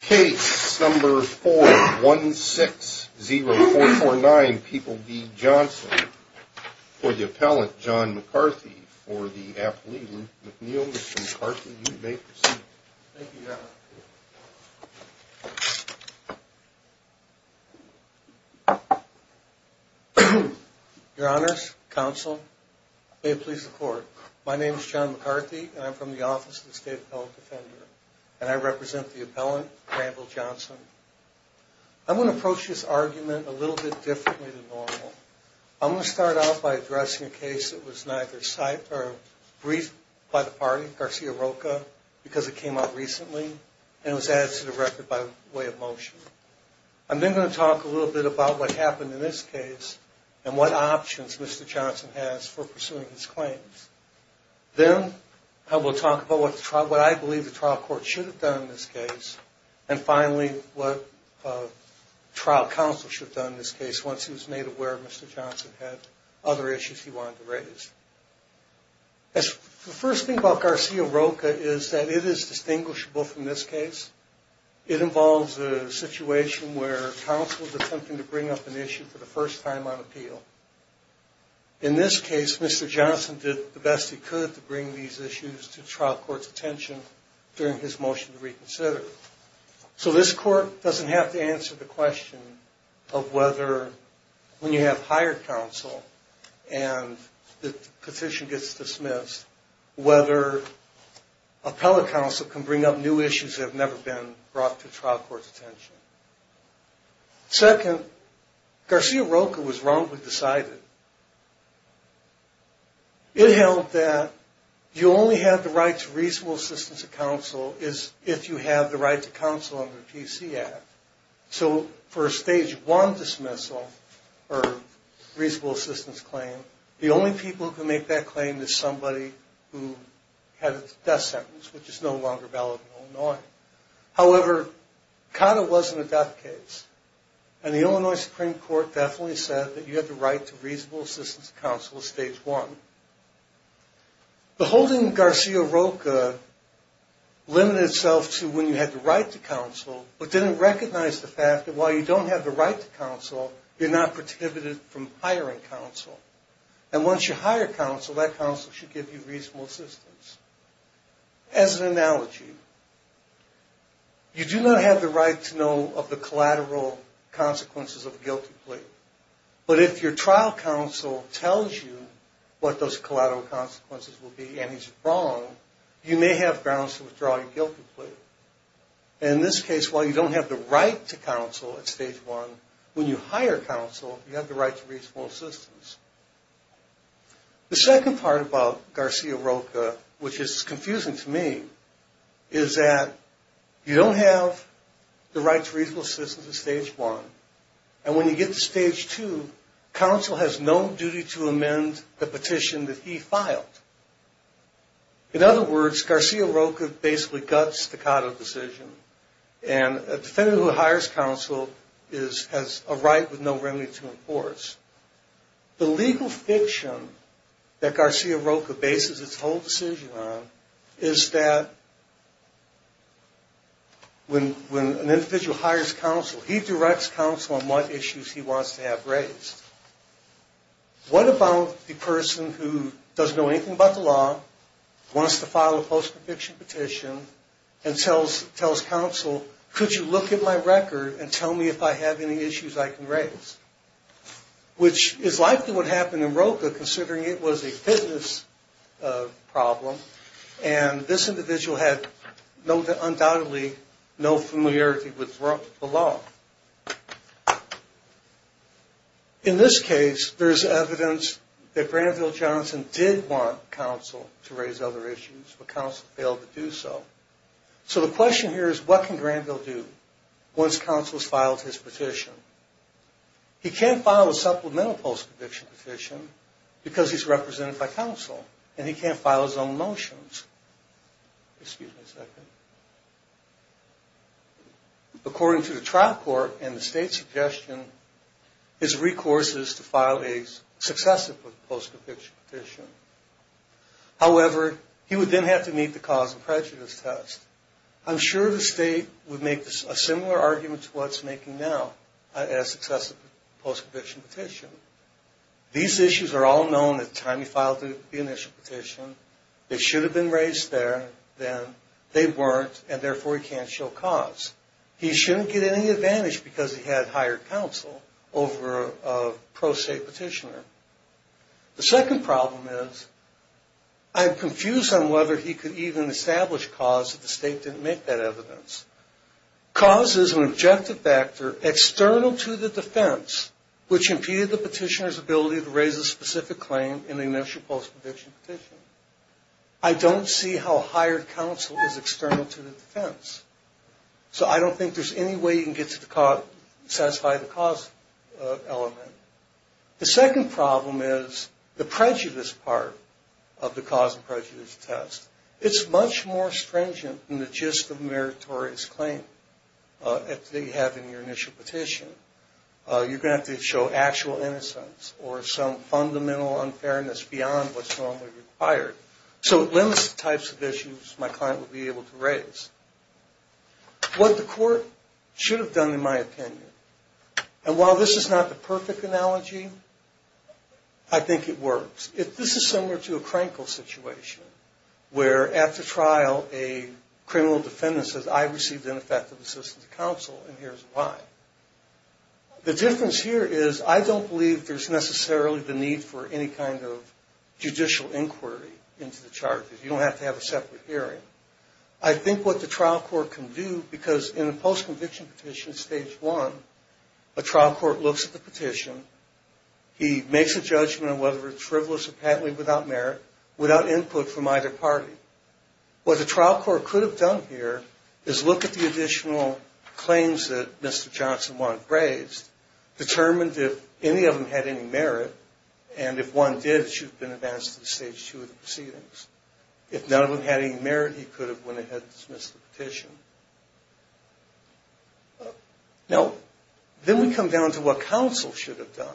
case number four one six zero four four nine. People be Johnson for the appellant john McCarthy for the athlete. McNeil, Mr McCarthy, you may proceed. Thank you. Mhm. Your honor's counsel. May it please the court. My name is john McCarthy and I'm from the office of the state appellate defender and I represent the Campbell Johnson. I want to approach this argument a little bit differently than normal. I'm going to start off by addressing a case that was neither site or brief by the party Garcia Rocha because it came out recently and was added to the record by way of motion. I'm then going to talk a little bit about what happened in this case and what options Mr Johnson has for pursuing his claims. Then I will talk about what I believe the trial court should have done in this case. And finally, what trial counsel should have done in this case once he was made aware of Mr Johnson had other issues he wanted to raise. The first thing about Garcia Rocha is that it is distinguishable from this case. It involves a situation where counsel is attempting to bring up an issue for the first time on appeal. In this case, Mr Johnson did the best he could to bring these issues to trial court's attention to reconsider. So this court doesn't have to answer the question of whether, when you have hired counsel and the petition gets dismissed, whether appellate counsel can bring up new issues that have never been brought to trial court's attention. Second, Garcia Rocha was wrongfully decided. It held that you only have the right to reasonable assistance of counsel if you have the right to counsel under the PC Act. So for a stage one dismissal or reasonable assistance claim, the only people who can make that claim is somebody who had a death sentence, which is no longer valid in Illinois. However, it kind of wasn't a death case. And the Illinois Supreme Court definitely said that you have the right to reasonable assistance of counsel at stage one. The holding Garcia Rocha limited itself to when you had the right to counsel, but didn't recognize the fact that while you don't have the right to counsel, you're not prohibited from hiring counsel. And once you hire counsel, that counsel should give you reasonable assistance. As an analogy, you do not have the right to know of the collateral consequences of a guilty plea. But if your trial counsel tells you what those collateral consequences will be and he's wrong, you may have grounds to withdraw your guilty plea. And in this case, while you don't have the right to counsel at stage one, when you hire counsel, you have the right to reasonable assistance. The second part about Garcia Rocha, which is confusing to me, is that you don't have the right to reasonable assistance at stage one. And when you get to stage two, counsel has no duty to amend the petition that he filed. In other words, Garcia Rocha basically guts the Cotto decision. And a defendant who hires counsel has a right with no remedy to enforce. The legal fiction that Garcia Rocha bases its whole decision on is that when an individual hires counsel, he directs counsel on what issues he wants to have raised. What about the person who doesn't know anything about the law, wants to file a post-conviction petition, and tells counsel, could you look at my record and tell me if I have any issues I can raise? Which is likely what happened in Rocha, considering it was a fitness problem. And this individual had undoubtedly no familiarity with the law. In this case, there's evidence that Granville Johnson did want counsel to raise other issues, but counsel failed to do so. So the question here is what can Granville do once counsel has filed his petition? He can't file a supplemental post-conviction petition because he's represented by counsel, and he can't file his own motions. According to the trial court and the state's suggestion, his recourse is to file a successive post-conviction petition. However, he would then have to meet the cause and prejudice test. I'm sure the state would make a similar argument to what it's making now, a successive post-conviction petition. These issues are all known at the time he filed the initial petition. They should have been raised there. Then they weren't, and therefore he can't show cause. He shouldn't get any advantage because he had higher counsel over a pro-state petitioner. The second problem is, I'm confused on whether he could even establish cause if the state didn't make that evidence. Cause is an objective factor external to the defense, which impeded the petitioner's ability to raise a specific claim in the initial post-conviction petition. I don't see how higher counsel is external to the defense. So I don't think there's any way you can satisfy the cause element. The second problem is the prejudice part of the cause and prejudice test. It's much more stringent than the gist of a meritorious claim that you have in your initial petition. You're going to have to show actual innocence or some fundamental unfairness beyond what's normally required. So it limits the types of issues my client would be able to raise. What the court should have done in my opinion, and while this is not the perfect analogy, I think it works. This is similar to a Krenkel situation where after trial a criminal defendant says, I received ineffective assistance of counsel, and here's why. The difference here is I don't believe there's necessarily the need for any kind of judicial inquiry into the charges. You don't have to have a separate hearing. I think what the trial court can do, because in a post-conviction petition stage one, a trial court looks at the petition. He makes a judgment on whether it's frivolous or patently without merit, without input from either party. What the trial court could have done here is look at the additional claims that Mr. Johnson wanted raised, determined if any of them had any merit, and if one did, it should have been advanced to the stage two of the proceedings. If none of them had any merit, he could have went ahead and dismissed the petition. Now, then we come down to what counsel should have done.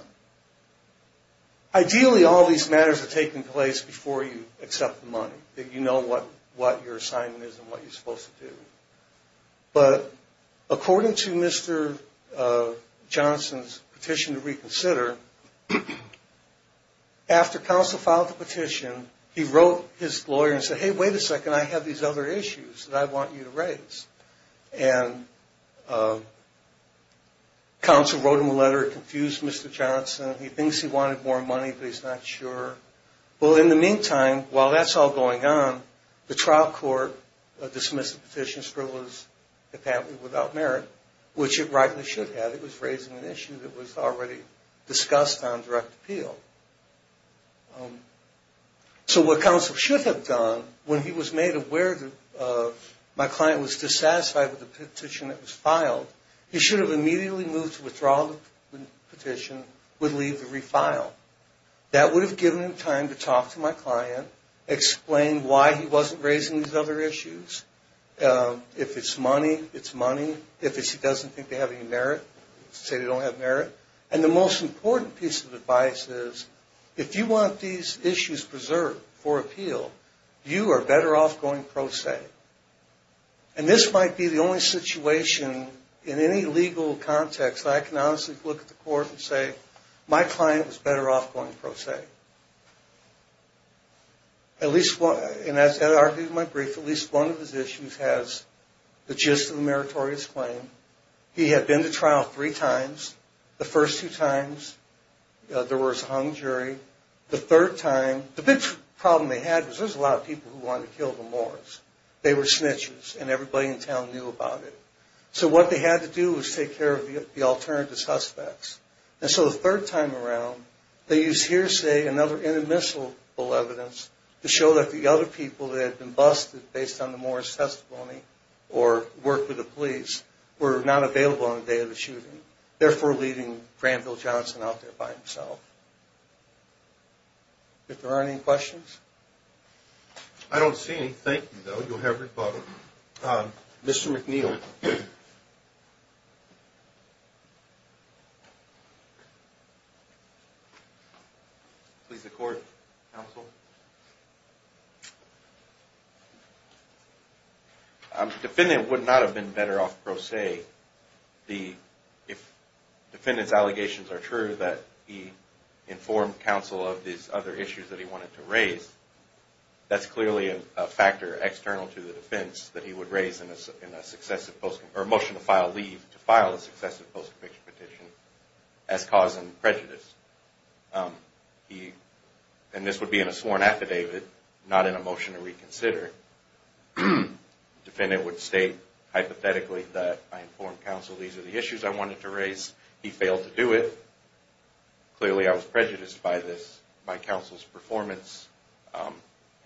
Ideally all these matters are taking place before you accept the money, that you know what your assignment is and what you're supposed to do. But according to Mr. Johnson's petition to reconsider, after counsel filed the petition, he wrote his lawyer and said, hey, wait a second, I have these other issues that I want you to raise. And counsel wrote him a letter, confused Mr. Johnson. He thinks he wanted more money, but he's not sure. Well, in the trial court dismissed the petition as frivolous and patently without merit, which it rightly should have. It was raising an issue that was already discussed on direct appeal. So what counsel should have done when he was made aware that my client was dissatisfied with the petition that was filed, he should have immediately moved to withdraw the petition, would leave the refile. That would have given him time to talk to my client, explain why he wasn't raising these other issues. If it's money, it's money. If it's he doesn't think they have any merit, say they don't have merit. And the most important piece of advice is, if you want these issues preserved for appeal, you are better off going pro se. And this might be the only situation in any legal context that I can honestly look at the At least one, and as I argued in my brief, at least one of his issues has the gist of the meritorious claim. He had been to trial three times. The first two times, there was a hung jury. The third time, the big problem they had was there was a lot of people who wanted to kill the Moors. They were snitches and everybody in town knew about it. So what they had to do was take care of the alternative suspects. And so the third time around, they used hearsay and other inadmissible evidence to show that the other people that had been busted based on the Moors' testimony or worked with the police were not available on the day of the shooting, therefore leaving Granville Johnson out there by himself. If there aren't any questions? I don't see any. Thank you, though. You'll have rebuttal. Mr. McNeil. Please, the court, counsel. The defendant would not have been better off, per se, if the defendant's allegations are true, that he informed counsel of these other issues that he wanted to raise. That's clearly a factor external to the defense that he would raise in a motion to file leave to file a successive post-conviction petition as causing prejudice. And this would be in a sworn affidavit, not in a motion to reconsider. The defendant would state hypothetically that I informed counsel these are the issues I wanted to raise. He failed to do it. Clearly, I was prejudiced by this, by counsel's performance.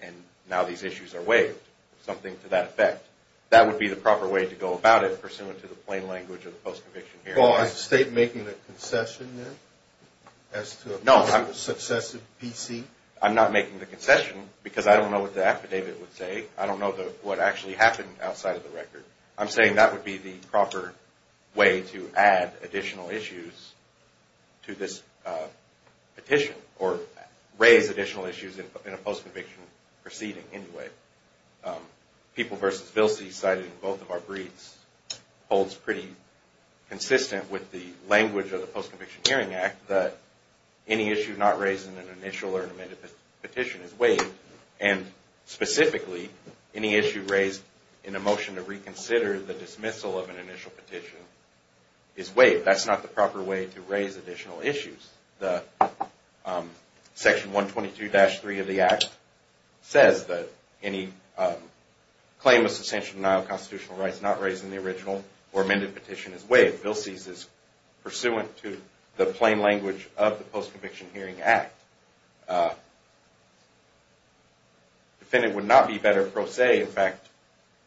And now these issues are waived, something to that effect. That would be the proper way to go about it, pursuant to the plain language of the post-conviction hearing. Well, is the state making a concession, then, as to a successive PC? I'm not making the concession, because I don't know what the affidavit would say. I don't know what actually happened outside of the record. I'm saying that would be the proper way to add additional issues to this petition, or raise additional issues in a post-conviction proceeding, anyway. People v. Vilsi, cited in both of our briefs, holds pretty consistent with the language of the Post-Conviction Hearing Act that any issue not raised in an initial or an amended petition is waived. And specifically, any issue raised in a motion to reconsider the dismissal of an initial petition is waived. That's not the proper way to raise any claim of substantial denial of constitutional rights not raised in the original or amended petition is waived. Vilsi's is pursuant to the plain language of the Post-Conviction Hearing Act. Defendant would not be better, per se. In fact,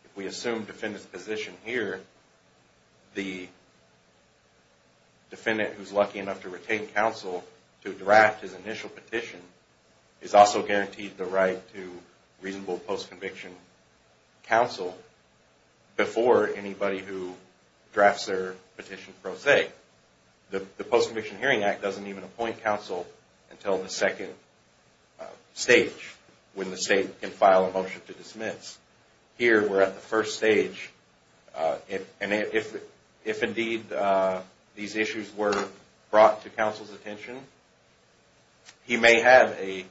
if we assume defendant's position here, the defendant who's lucky enough to retain counsel to draft his initial petition is also guaranteed the right to reasonable post-conviction counsel before anybody who drafts their petition pro se. The Post-Conviction Hearing Act doesn't even appoint counsel until the second stage, when the state can file a motion to dismiss. Here, we're at the first stage. If, indeed, these issues were brought to counsel's attention, he may have a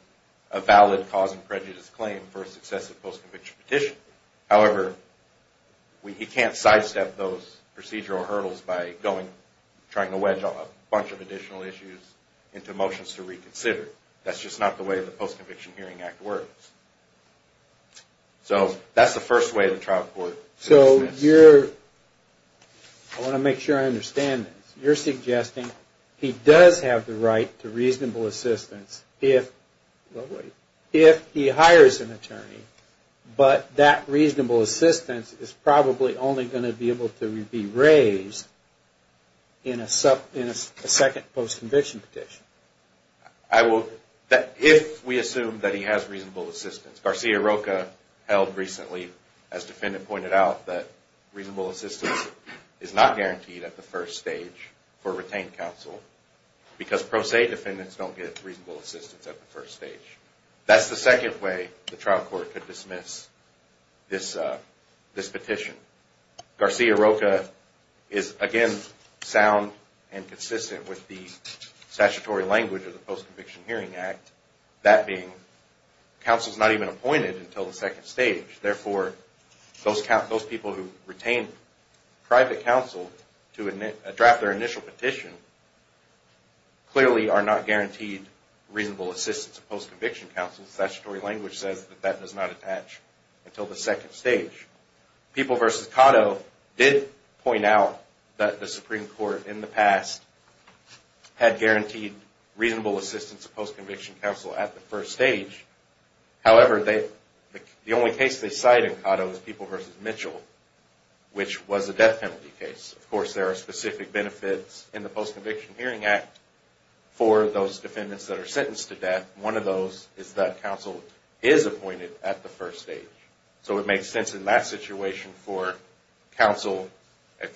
valid cause and prejudice claim for a successive post-conviction petition. However, he can't sidestep those procedural hurdles by trying to wedge a bunch of additional issues into motions to reconsider. That's just not the way the Post-Conviction Hearing Act works. So that's the first way the trial court should dismiss. I want to make sure I understand this. You're suggesting he does have the right to reasonable assistance if he hires an attorney, but that reasonable assistance is probably only going to be able to be raised in a second post-conviction petition? If we assume that he has reasonable assistance. Garcia Rocha held recently, as defendant pointed out, that reasonable assistance is not guaranteed at the first stage for retained counsel because pro se defendants don't get reasonable assistance at the first stage. That's the second way the trial court could dismiss this petition. Garcia Rocha is, again, sound and consistent with the statutory language of the Post-Conviction Hearing Act. That being, counsel's not even appointed until the second stage. Therefore, those people who retain private counsel to draft their initial petition clearly are not guaranteed reasonable assistance of post-conviction counsel. The statutory language says that that does not attach until the second stage. People v. Cotto did point out that the Supreme Court in the past had guaranteed reasonable assistance of post-conviction counsel at the first stage. However, the only case they cite in Cotto is People v. Mitchell, which was a death penalty case. Of course, there are specific benefits in the Post-Conviction Hearing Act for those defendants that are sentenced to death. One of those is that counsel is appointed at the first stage. So it makes sense in that situation for counsel...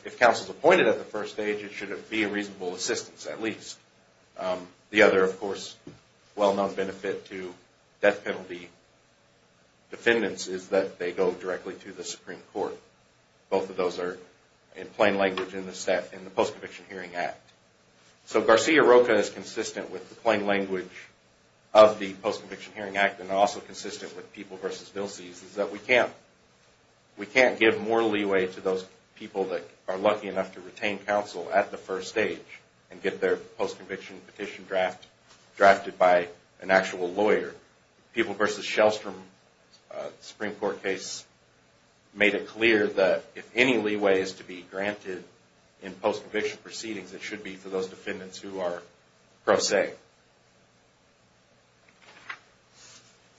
If counsel's appointed at the first stage, it should be a reasonable assistance, at least. The other, of course, well-known benefit to death penalty defendants is that they go directly to the Supreme Court. Both of those are in plain language in the Post-Conviction Hearing Act. So Garcia-Roca is consistent with the plain language of the Post-Conviction Hearing Act and also consistent with People v. Vilses is that we can't give more leeway to those people that are lucky enough to retain counsel at the first stage and get their post-conviction petition drafted by an actual lawyer. People v. Shellstrom Supreme Court case made it clear that if any leeway is to be granted in post-conviction proceedings, it should be for those defendants who are pro se.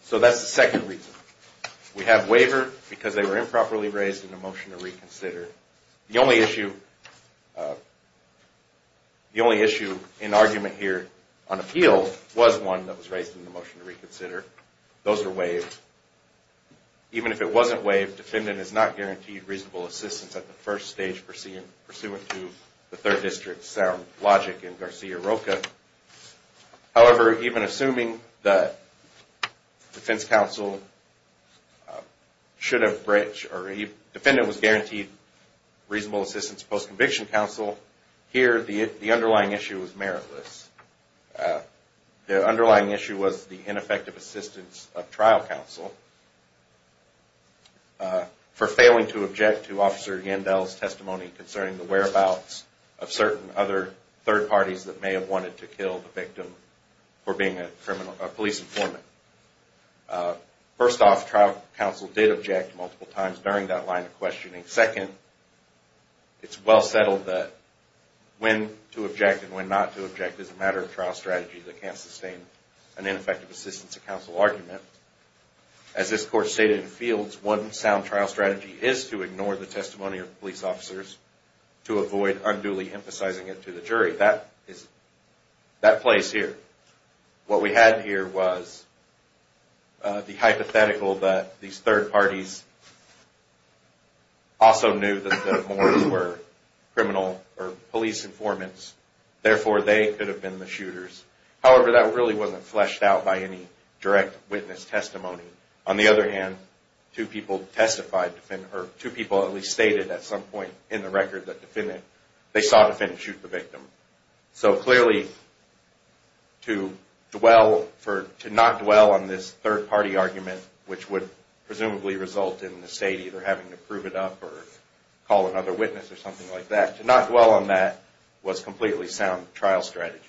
So that's the second reason. We have waiver because they were improperly raised in the motion to reconsider. The only issue in argument here on appeal was one that was raised in the motion to reconsider. Those are waived. Even if it wasn't waived, defendant is not guaranteed reasonable assistance at the first stage pursuant to the Third District's sound logic in Garcia-Roca. However, even assuming that defense counsel should have breached or a defendant was guaranteed reasonable assistance post-conviction counsel, here the underlying issue was meritless. The underlying issue was the ineffective assistance of trial counsel for failing to object to Officer Yandel's testimony concerning the whereabouts of certain other third parties that may have wanted to kill the victim for being a police informant. First off, trial counsel did object multiple times during that line of questioning. Second, it's well settled that when to object and when not to object is a matter of trial strategy that can't sustain an ineffective assistance of counsel argument. As this Court stated in Fields, one sound trial strategy is to ignore the testimony of police officers to avoid unduly emphasizing it to the jury. That plays here. What we had here was the hypothetical that these third parties also knew that the mourners were criminal or police informants. Therefore, they could have been the shooters. However, that really wasn't fleshed out by any direct witness testimony. On the other hand, two people testified, or two people at least stated at some point in the record that they saw the defendant shoot the victim. So clearly, to not dwell on this third party argument, which would presumably result in the state either having to prove it up or call another witness or something like that, to not dwell on that was completely sound trial strategy.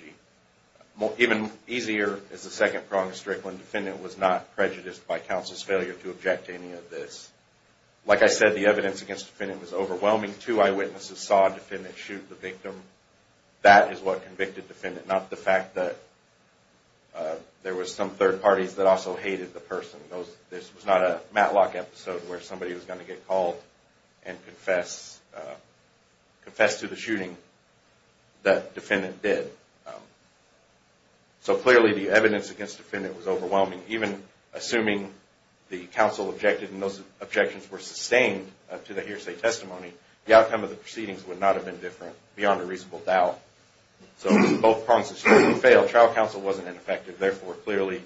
Even easier is the second prong of Strickland. Defendant was not prejudiced by counsel's failure to object to any of this. Like I said, the evidence against the defendant was overwhelming. Two eyewitnesses saw a defendant shoot the victim. That is what convicted the defendant, not the fact that there was some third parties that also hated the person. This was not a Matlock episode where somebody was going to get called and confess to the shooting that defendant did. So clearly, the evidence against the defendant was overwhelming. Even assuming the counsel objected and those objections were sustained to the hearsay testimony, the outcome of the proceedings would not have been different beyond a reasonable doubt. So both prongs of Strickland failed. Trial counsel wasn't ineffective. Therefore, clearly,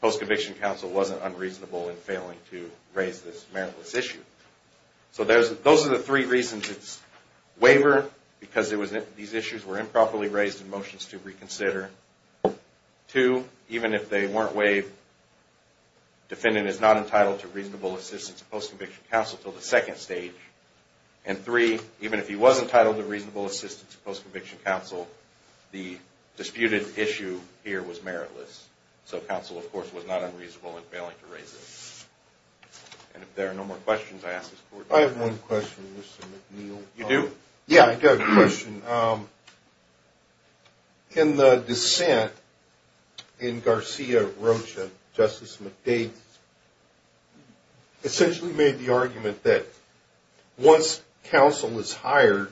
post-conviction counsel wasn't unreasonable in failing to raise this meritless issue. So those are the three reasons. It's waiver because these issues were improperly raised in motions to reconsider. Two, even if they weren't waived, defendant is not entitled to reasonable assistance of post-conviction counsel until the second stage. And three, even if he was entitled to reasonable assistance of post-conviction counsel, the disputed issue here was meritless. So counsel, of course, was not unreasonable in failing to raise it. And if there are no more questions, I ask this court to... I have one question, Mr. McNeil. You do? Yeah, I've got a question. In the dissent in Garcia Rocha, Justice McDade essentially made the argument that once counsel is hired,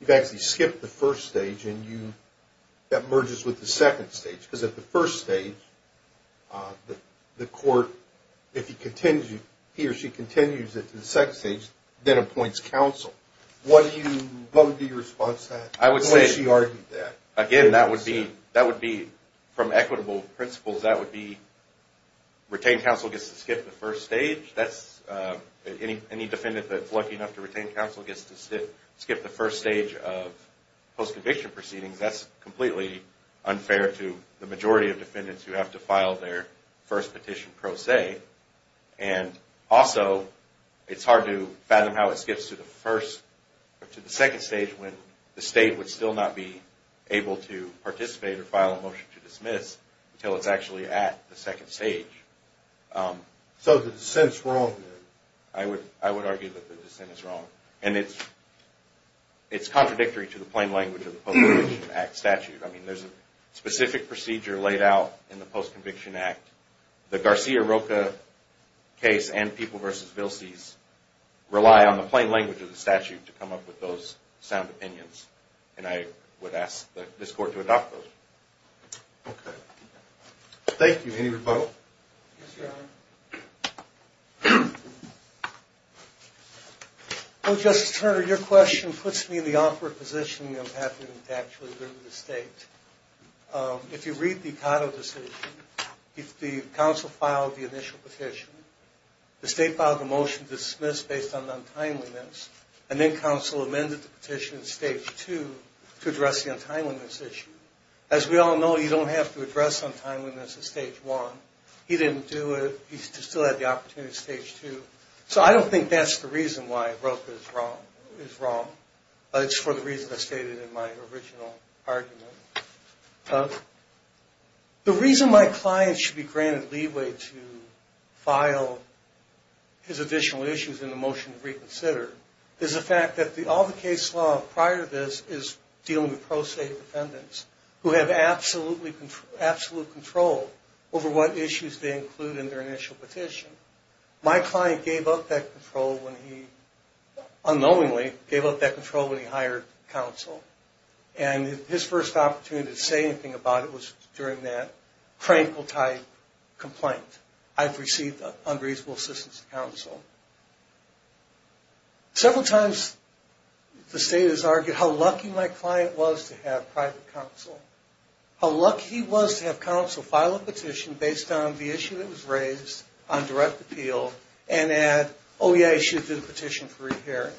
you've actually got merges with the second stage. Because at the first stage, the court, if he or she continues it to the second stage, then appoints counsel. What would be your response to that? I would say... She argued that. Again, that would be, from equitable principles, that would be retained counsel gets to skip the first stage. That's... Any defendant that's lucky enough to retain counsel gets to skip the first stage of post-conviction proceedings. That's completely unfair to the majority of defendants who have to file their first petition pro se. And also, it's hard to fathom how it skips to the first or to the second stage when the state would still not be able to participate or file a motion to dismiss until it's actually at the second stage. So the dissent's wrong then? I would argue that the dissent is wrong. And it's contradictory to the plain language of the Post-Conviction Act statute. I mean, there's a specific procedure laid out in the Post-Conviction Act. The Garcia-Roca case and People v. Vilses rely on the plain language of the statute to come up with those sound opinions. And I would ask this court to adopt those. Okay. Thank you. Any rebuttal? Yes, Your Honor. Well, Justice Turner, your question puts me in the awkward position of having to actually go to the state. If you read the Cotto decision, if the counsel filed the initial petition, the state filed a motion to dismiss based on untimeliness, and then counsel amended the petition in stage two to address the untimeliness issue. As we all know, you don't have to address untimeliness in stage one. He didn't do it. He still had the opportunity in stage two. So I don't think that's the reason why Roca is wrong. It's for the reason I stated in my original argument. The reason my client should be granted leeway to file his additional issues in the motion to reconsider is the fact that all the case law prior to this is dealing with pro-state defendants who have absolute control over what issues they include in their initial petition. My client gave up that control when he, unknowingly, gave up that control when he hired counsel. And his first opportunity to say anything about it was during that Frankl-type complaint. I've received unreasonable assistance from counsel. Several times the state has argued how lucky my client was to have private counsel, how lucky he was to have counsel file a petition based on the issue that was raised on direct appeal and add, oh yeah, he should have did a petition for re-hearing.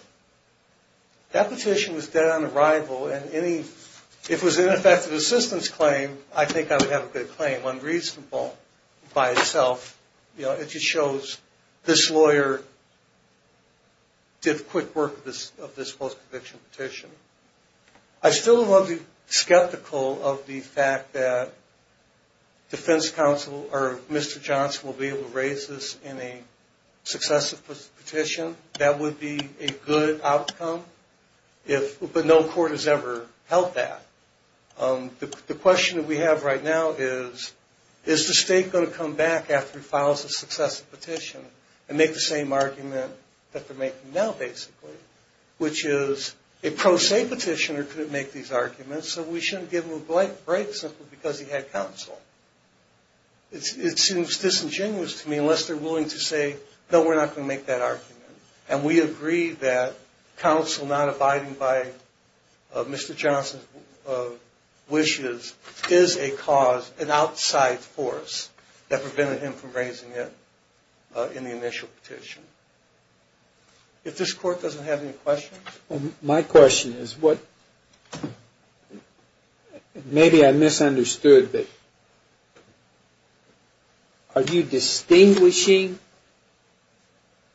That petition was dead on arrival and any, if it was an ineffective assistance claim, I think I would have a good claim. Unreasonable by itself, you know, it just shows this lawyer did quick work of this post-conviction petition. I'm still a little skeptical of the fact that defense counsel or Mr. Johnson will be able to raise this in a successive petition. That would be a good outcome if, but no court has ever held that. The question that we have right now is, is the state going to come back after he files a successive petition and make the same argument that they're making now, basically, which is a pro-state petitioner couldn't make these arguments, so we shouldn't give him a break simply because he had counsel. It seems disingenuous to me, unless they're willing to say, no, we're not going to make that argument. And we agree that counsel not abiding by Mr. Johnson's wishes is a cause, an outside force that prevented him from raising it in the initial petition. If this court doesn't have any questions. My question is, maybe I misunderstood, but are you distinguishing,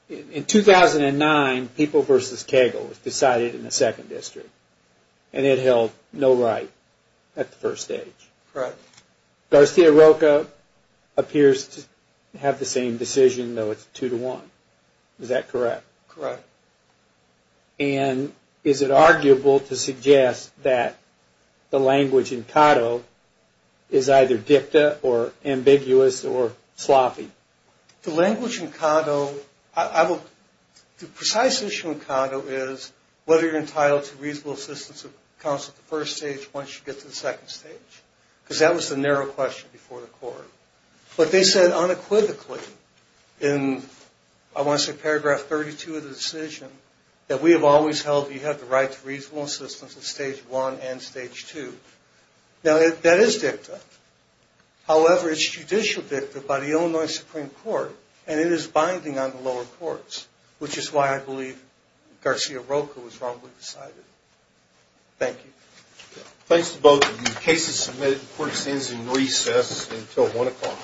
in 2009 people versus Kegel was decided in the second district, and it held no right at the first stage. Garcia Rocha appears to have the same decision, though it's And is it arguable to suggest that the language in Cato is either dicta or ambiguous or sloppy? The language in Cato, the precise issue in Cato is whether you're entitled to reasonable assistance of counsel at the first stage once you get to the second stage, because that was the narrow question before the court. But they said unequivocally in, I want to say paragraph 32 of the case held that you had the right to reasonable assistance at stage one and stage two. Now, that is dicta. However, it's judicial dicta by the Illinois Supreme Court, and it is binding on the lower courts, which is why I believe Garcia Rocha was wrongfully decided. Thank you. Thanks to both of you. The case is submitted. The court stands in recess until 1 o'clock.